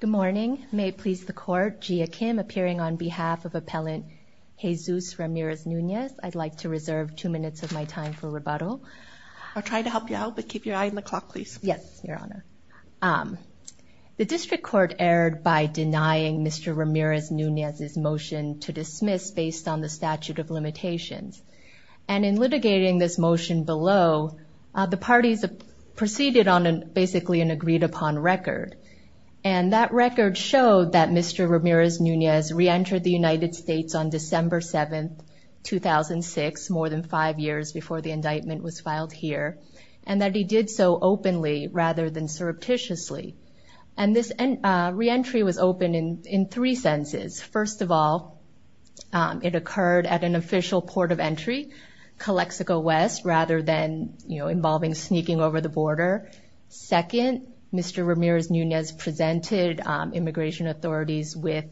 Good morning. May it please the court, Jia Kim appearing on behalf of Appellant Jesus Ramirez-Nunez. I'd like to reserve two minutes of my time for rebuttal. I'll try to help you out, but keep your eye on the clock, please. Yes, Your Honor. The District Court erred by denying Mr. Ramirez-Nunez's motion to dismiss based on the statute of limitations. And in litigating this basically an agreed-upon record. And that record showed that Mr. Ramirez-Nunez reentered the United States on December 7th, 2006, more than five years before the indictment was filed here. And that he did so openly rather than surreptitiously. And this reentry was open in three senses. First of all, it occurred at an official port of entry, Calexico West, rather than, you know, involving taking over the border. Second, Mr. Ramirez-Nunez presented immigration authorities with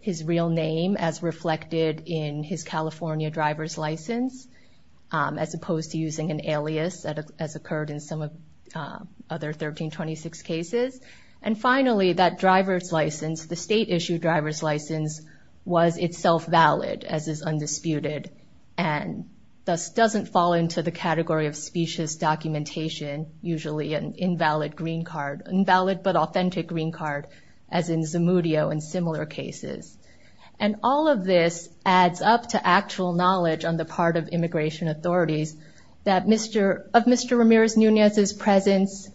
his real name as reflected in his California driver's license, as opposed to using an alias that has occurred in some of other 1326 cases. And finally, that driver's license, the state-issued driver's license, was itself valid as is undisputed, and thus doesn't fall into the category of specious documentation, usually an invalid green card, invalid but authentic green card, as in Zamudio and similar cases. And all of this adds up to actual knowledge on the part of immigration authorities that Mr., of Mr. Ramirez-Nunez's presence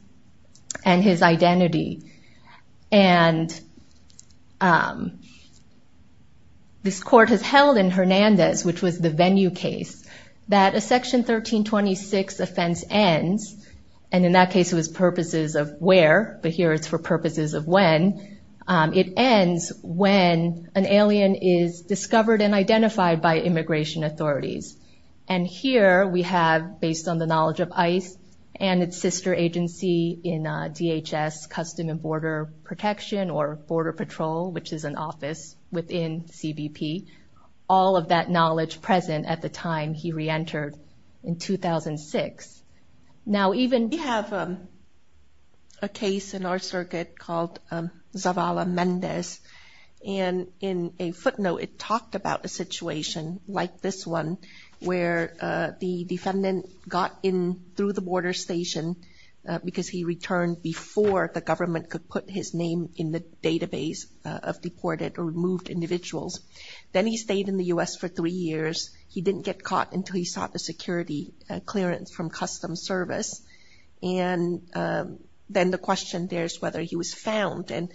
and his identity. And this court has held in Hernandez, which was the venue case, that a section 1326 offense ends, and in that case it was purposes of where, but here it's for purposes of when. It ends when an alien is discovered and identified by immigration authorities. And here we have, based on the knowledge of ICE and its sister agency in DHS, Custom and Border Protection or Border Patrol, which is an office within CBP, all of that knowledge present at the time he re-entered in 2006. Now even... We have a case in our circuit called Zavala-Mendez. And in a footnote, it talked about a situation like this one, where the defendant got in through the border station because he returned before the government could put his database of deported or removed individuals. Then he stayed in the U.S. for three years. He didn't get caught until he sought a security clearance from Custom Service. And then the question there is whether he was found. And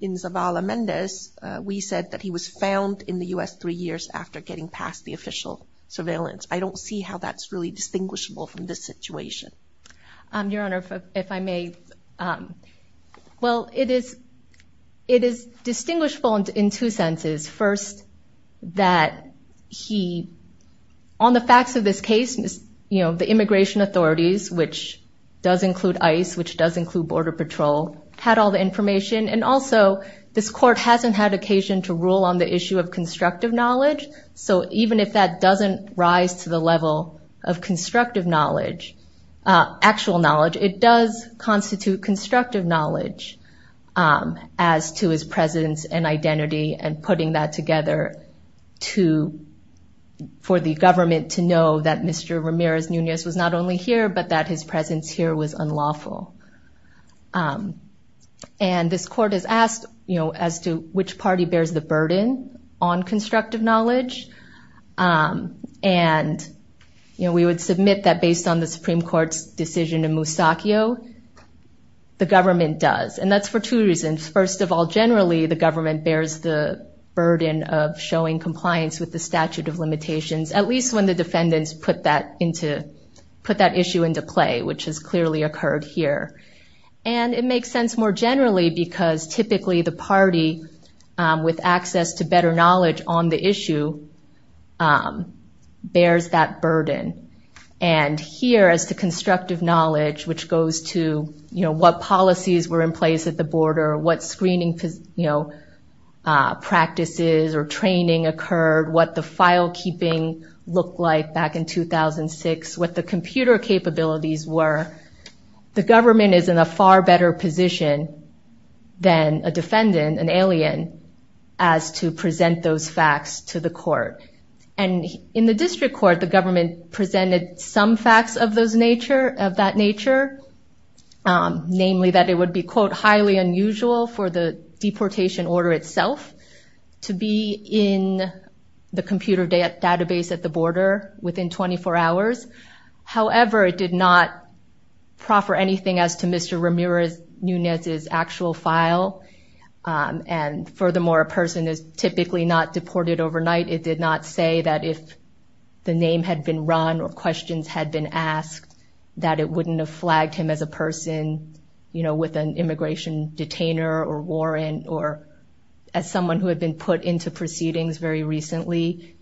in Zavala-Mendez, we said that he was found in the U.S. three years after getting past the official surveillance. I don't see how that's really distinguishable from this situation. Your Honor, if I may. Well, it is distinguishable in two senses. First, that he... On the facts of this case, the immigration authorities, which does include ICE, which does include Border Patrol, had all the information. And also, this court hasn't had occasion to rule on the issue of constructive knowledge. So even if that doesn't rise to the level of constructive knowledge, actual knowledge, it does constitute constructive knowledge as to his presence and identity and putting that together for the government to know that Mr. Ramirez Nunez was not only here, but that his presence here was unlawful. And this court has asked, you know, as to which party bears the burden on constructive knowledge. And, you know, we would submit that based on the Supreme Court's decision in Musacchio, the government does. And that's for two reasons. First of all, generally, the government bears the burden of showing compliance with the statute of limitations, at least when the defendants put that issue into play, which has clearly occurred here. And it makes sense more generally because typically the party, with access to better knowledge on the issue, bears that burden. And here, as to constructive knowledge, which goes to, you know, what policies were in place at the border, what screening, you know, practices or training occurred, what the file keeping looked like back in 2006, what the computer capabilities were, the government is in a far better position than a defendant, an alien, as to present those facts to the court. And in the district court, the government presented some facts of that nature, namely that it would be, quote, highly unusual for the deportation order itself to be in the computer database at the border within 24 hours. However, it did not proffer anything as to Mr. Ramirez Nunez's actual file. And furthermore, a person is typically not deported overnight. It did not say that if the name had been run or questions had been asked, that it wouldn't have flagged him as a person, you know, with an immigration detainer or warrant or as someone who had been put into proceedings very recently.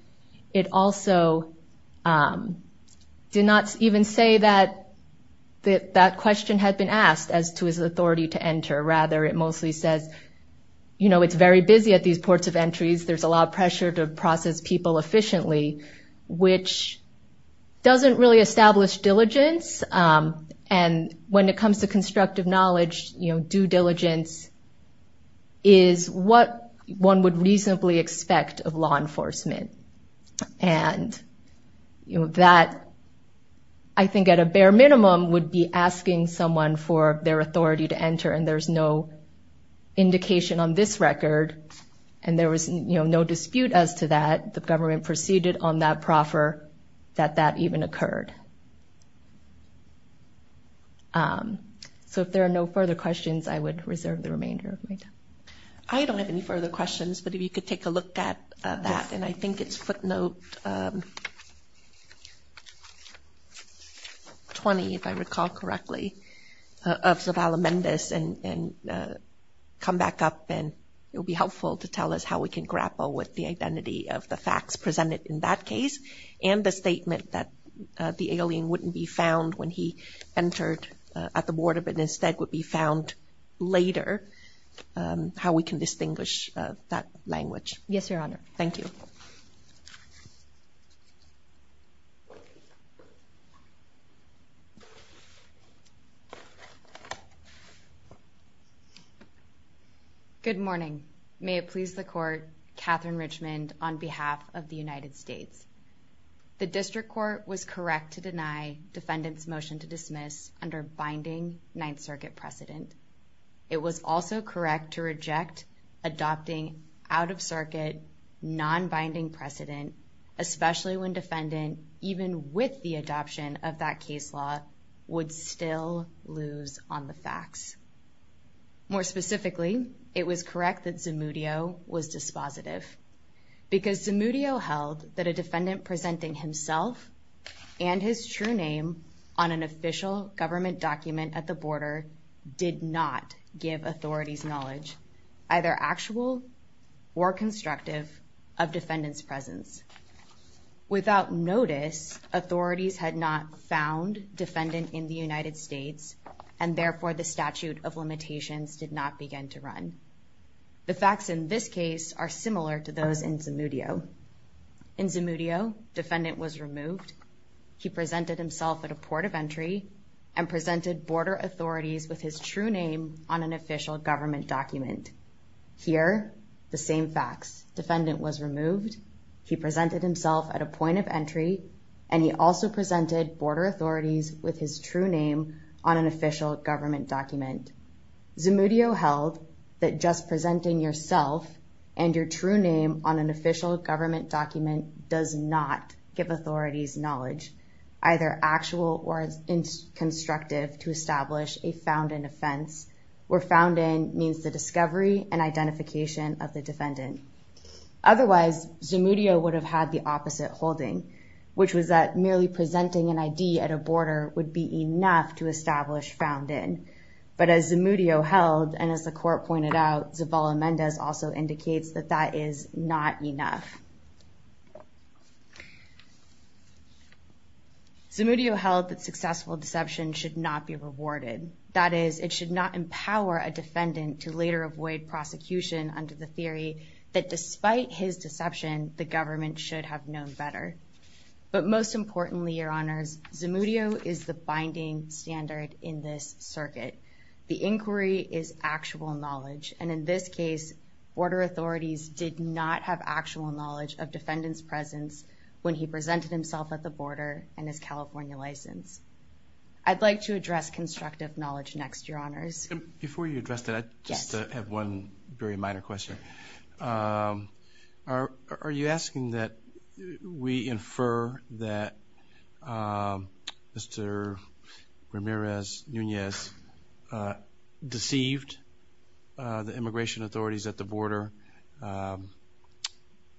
It also did not even say that that question had been asked as to his authority to enter. Rather, it mostly says, you know, it's very busy at these ports of entries. There's a lot of pressure to process people efficiently, which doesn't really establish diligence. And when it comes to constructive knowledge, you know, due diligence is what one would reasonably expect of law enforcement. And, you know, that, I think, at a bare minimum, would be asking someone for their authority to enter. And there's no dispute as to that. The government proceeded on that proffer that that even occurred. So if there are no further questions, I would reserve the remainder of my time. I don't have any further questions. But if you could take a look at that, and I think it's footnote 20, if I recall correctly, of Zavala Mendez and come back up and it will be helpful to tell us how we can grapple with the identity of the facts presented in that case and the statement that the alien wouldn't be found when he entered at the border, but instead would be found later, how we can distinguish that language. Yes, Your Honor. Thank you. Thank you. Good morning. May it please the court. Catherine Richmond on behalf of the United States. The district court was correct to deny defendants motion to dismiss under binding Ninth Circuit precedent. It was also correct to reject adopting out of circuit, non-binding precedent, especially when defendant, even with the adoption of that case law, would still lose on the facts. More specifically, it was correct that Zamudio was dispositive because Zamudio held that a defendant presenting himself and his true name on an official government document at the border did not give authorities knowledge, either actual or constructive of defendants presence. Without notice, authorities had not found defendant in the United States and therefore the statute of limitations did not begin to run. The facts in this case are similar to those in Zamudio. In Zamudio, defendant was removed. He presented himself at a port of entry and presented border authorities with his true name on an official government document. Here, the same facts. Defendant was removed. He presented himself at a point of entry and he also presented border authorities with his true name on an official government document. Zamudio held that just presenting yourself and your true name on an official government document does not give authorities knowledge, either actual or constructive to establish a found in offense, where found in means the discovery and identification of the defendant. Otherwise, Zamudio would have had the opposite holding, which was that merely presenting an ID at a border would be enough to establish found in. But as Zamudio held, and as the court pointed out, Zavala-Mendez also indicates that that is not enough. Zamudio held that successful deception should not be rewarded. That is, it should not empower a defendant to later avoid prosecution under the theory that despite his deception, the government should have known better. But most importantly, your honors, Zamudio is the binding standard in this circuit. The inquiry is actual knowledge. And in this case, border authorities did not have actual knowledge of defendant's presence when he presented himself at the border and his California license. I'd like to address constructive knowledge next, your honors. Before you address that, I just have one very minor question. Are you asking that we infer that Mr. Ramirez-Nunez deceived the immigration authorities at the border?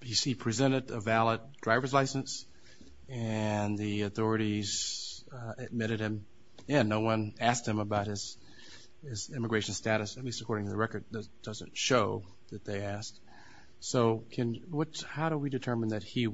He presented a valid driver's license, and the authorities admitted him. Yeah, no one asked him about his immigration status, at least according to the record. It doesn't show that they asked. So how do we determine that he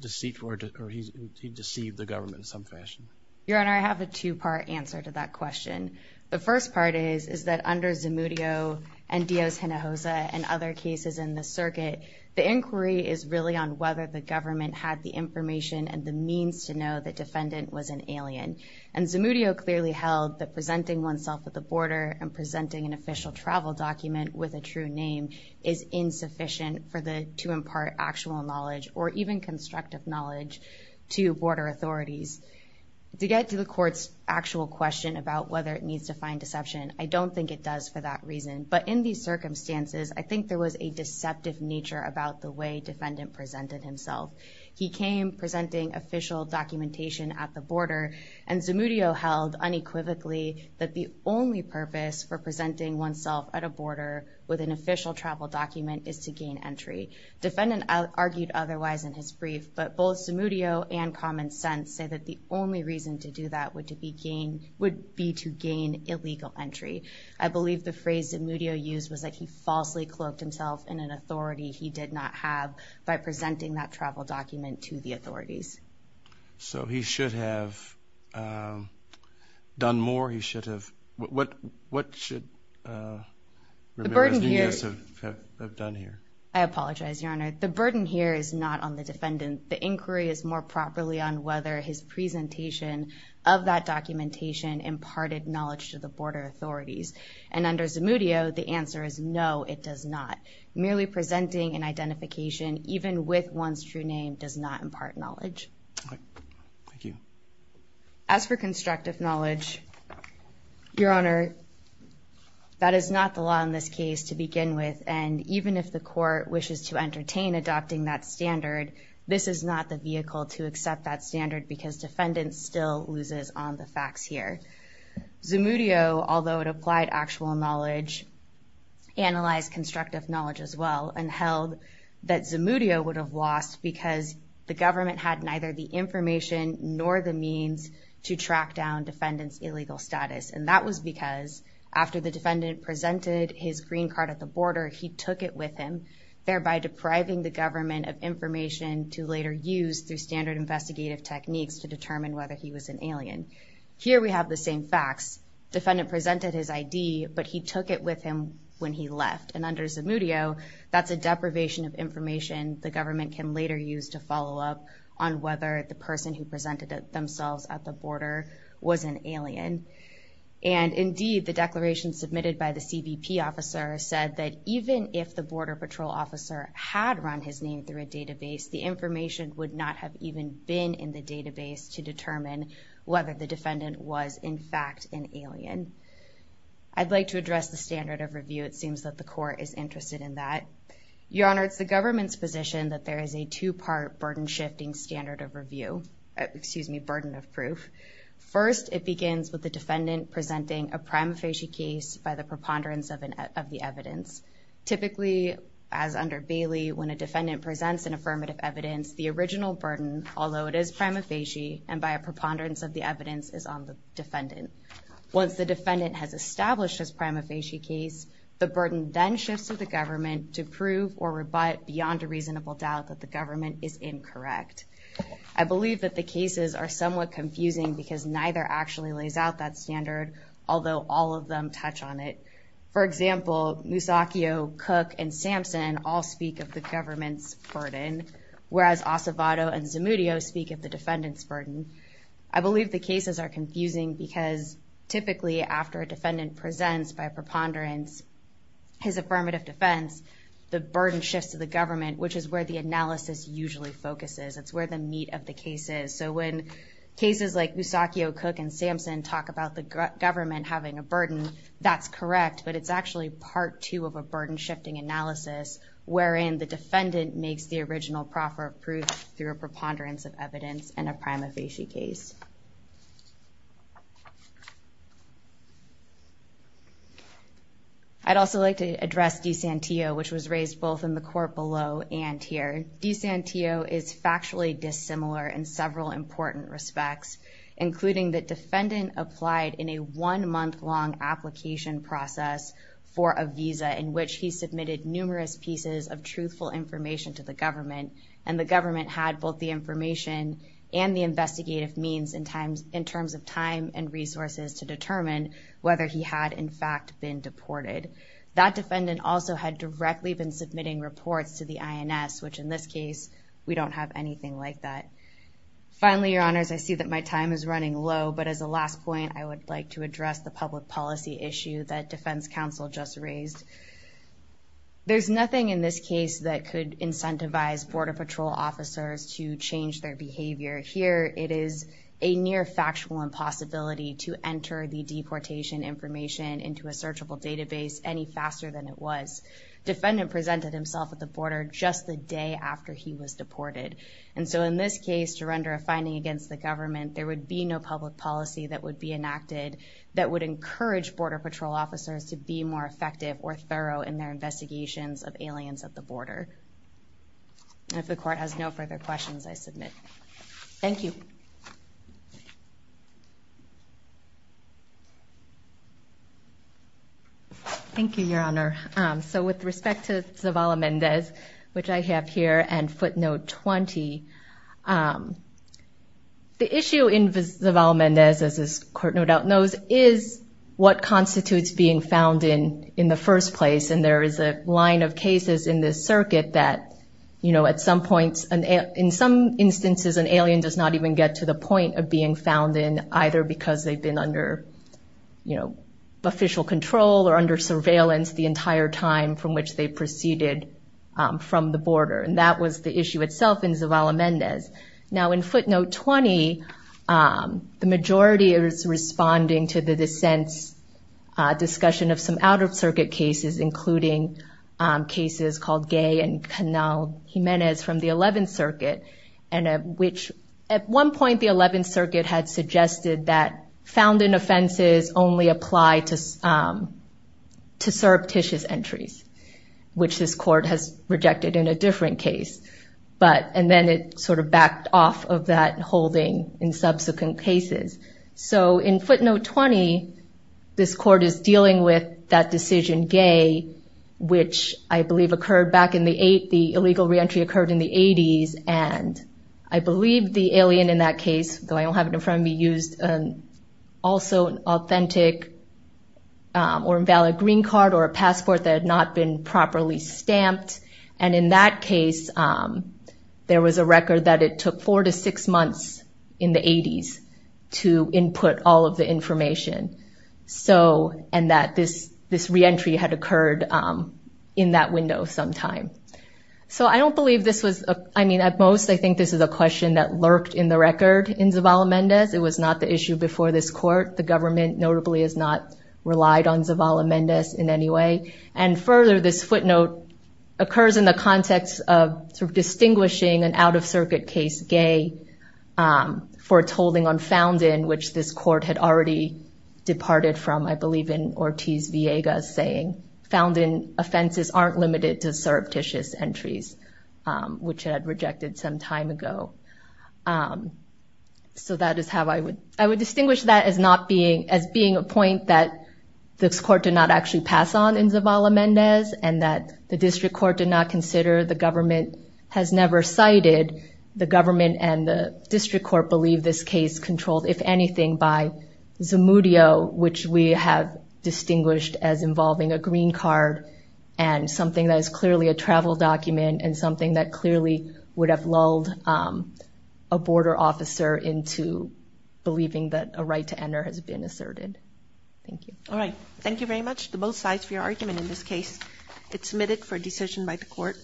deceived the government in some fashion? Your honor, I have a two-part answer to that question. The first part is, is that under Zamudio and Diaz-Hinojosa and other cases in the circuit, the inquiry is really on whether the government had the information and the means to know that defendant was an alien. And Zamudio clearly held that presenting oneself at the border and presenting an official travel document with a true name is insufficient to impart actual knowledge or even constructive knowledge to border authorities. To get to the court's actual question about whether it needs to find deception, I don't think it does for that reason. But in these circumstances, I think there was a deceptive nature about the way defendant presented himself. He came presenting official documentation at the border, and Zamudio held unequivocally that the only purpose for presenting oneself at a border with an official travel document is to gain entry. Defendant argued otherwise in his brief, but both Zamudio and common sense say that the only reason to do that would be to gain illegal entry. I believe the phrase Zamudio used was that he falsely cloaked himself in an authority he did not have by presenting that travel document to the authorities. So he should have done more, he should have, what should Ramirez-Diaz have done here? I apologize, Your Honor. The burden here is not on the defendant. The inquiry is more properly on whether his presentation of that documentation imparted knowledge to the border authorities. And under Zamudio, the answer is no, it does not. Merely presenting an identification even with one's true name does not impart knowledge. Thank you. As for constructive knowledge, Your Honor, that is not the law in this case to begin with. And even if the court wishes to entertain adopting that standard, this is not the vehicle to accept that standard because defendants still loses on the facts here. Zamudio, although it applied actual knowledge, analyzed constructive knowledge as well, and held that Zamudio would have lost because the government had neither the information nor the means to track down defendant's illegal status. And that was because after the defendant presented his green card at the border, he took it with him, thereby depriving the government of information to later use through standard investigative techniques to determine whether he was an alien. Here we have the same facts. Defendant presented his ID, but he took it with him when he left. And under Zamudio, that's a deprivation of information the government can later use to follow up on whether the person who presented themselves at the border was an alien. And indeed, the declaration submitted by the CBP officer said that even if the border patrol officer had run his name through a database, the information would not have even been in the database to determine whether the defendant was in fact an alien. I'd like to address the standard of review. It seems that the court is interested in that. Your Honor, it's the government's position that there is a two-part burden-shifting standard of review. Excuse me, burden of proof. First, it begins with the defendant presenting a prima facie case by the preponderance of the evidence. Typically, as under Bailey, when a defendant presents an affirmative evidence, the original burden, although it is prima facie and by a preponderance of the evidence, is on the defendant. Once the defendant has established his prima facie case, the burden then shifts to the government to prove or rebut beyond a reasonable doubt that the government is incorrect. I believe that the cases are somewhat confusing because neither actually lays out that standard, although all of them touch on it. For example, Musacchio, Cook, and Sampson all speak of the government's burden, whereas Acevedo and Zamudio speak of the defendant's burden. I believe the cases are confusing because typically, after a defendant presents by preponderance his affirmative defense, the burden shifts to the government, which is where the analysis usually focuses. It's where the meat of the case is. So when cases like Musacchio, Cook, and Sampson talk about the government having a burden, that's correct. But it's actually part two of a burden-shifting analysis, wherein the defendant makes the original proffer of proof through a preponderance of evidence in a prima facie case. I'd also like to address DiSantio, which was raised both in the court below and here. DiSantio is factually dissimilar in several important respects, including that defendant applied in a one-month-long application process for a visa in which he submitted numerous pieces of truthful information to the government, and the government had both the information and the investigative means in terms of time and resources to determine whether he had, in fact, been deported. That defendant also had directly been submitting reports to the INS, which in this case, we don't have anything like that. Finally, your honors, I see that my time is running low, but as a last point, I would like to address the public policy issue that defense counsel just raised. There's nothing in this case that could incentivize Border Patrol officers to change their behavior. Here, it is a near factual impossibility to enter the deportation information into a searchable database any faster than it was. Defendant presented himself at the border just the day after he was deported. In this case, to render a finding against the government, there would be no public policy that would be enacted that would encourage Border Patrol officers to be more effective or thorough in their investigations of aliens at the border. If the court has no further questions, I submit. Thank you. Thank you, your honor. With respect to Zavala-Mendez, which I have here, and footnote 20, the issue in Zavala-Mendez, as this court no doubt knows, is what constitutes being found in in the first place. There is a line of cases in this circuit that at some points, in some instances, an alien does not even get to the point of being found in either because they've been under official control or under surveillance the entire time from which they proceeded from the border. That was the issue itself in Zavala-Mendez. Now, in footnote 20, the majority is responding to the dissent's discussion of some Outer Circuit cases, including cases called Gay and Canal Jimenez from the 11th Circuit, which at one point the 11th Circuit had suggested that found in offenses only apply to surreptitious entries, which this court has rejected in a different case. And then it sort of backed off of that holding in subsequent cases. So in footnote 20, this court is dealing with that decision, Gay, which I believe occurred back in the illegal reentry occurred in the 80s. And I believe the alien in that case, though I don't have it in front of me, used also an authentic or invalid green card or a passport that had not been properly stamped. And in that case, there was a record that it took four to six months in the 80s to input all of the information. And that this reentry had occurred in that window sometime. So I don't believe this was, I mean, at most, I think this is a question that lurked in the record in Zavala-Mendez. It was not the issue before this court. The government notably has not relied on Zavala-Mendez in any way. And further, this footnote occurs in the context of sort of distinguishing an out-of-circuit case, Gay, for its holding on Foundin, which this court had already departed from, I believe, in Ortiz-Villegas, saying, Foundin offenses aren't limited to surreptitious entries, which it had rejected some time ago. So that is how I would, I would distinguish that as not being, as being a point that this court did not actually pass on in Zavala-Mendez and that the district court did not consider, the government has never cited the government and the district court believe this case controlled, if anything, by Zamudio, which we have distinguished as involving a green card and something that is clearly a travel document and something that clearly would have lulled a border officer into believing that a right to enter has been asserted. Thank you. All right. Thank you very much to both sides for your argument in this case. It's submitted for decision by the court.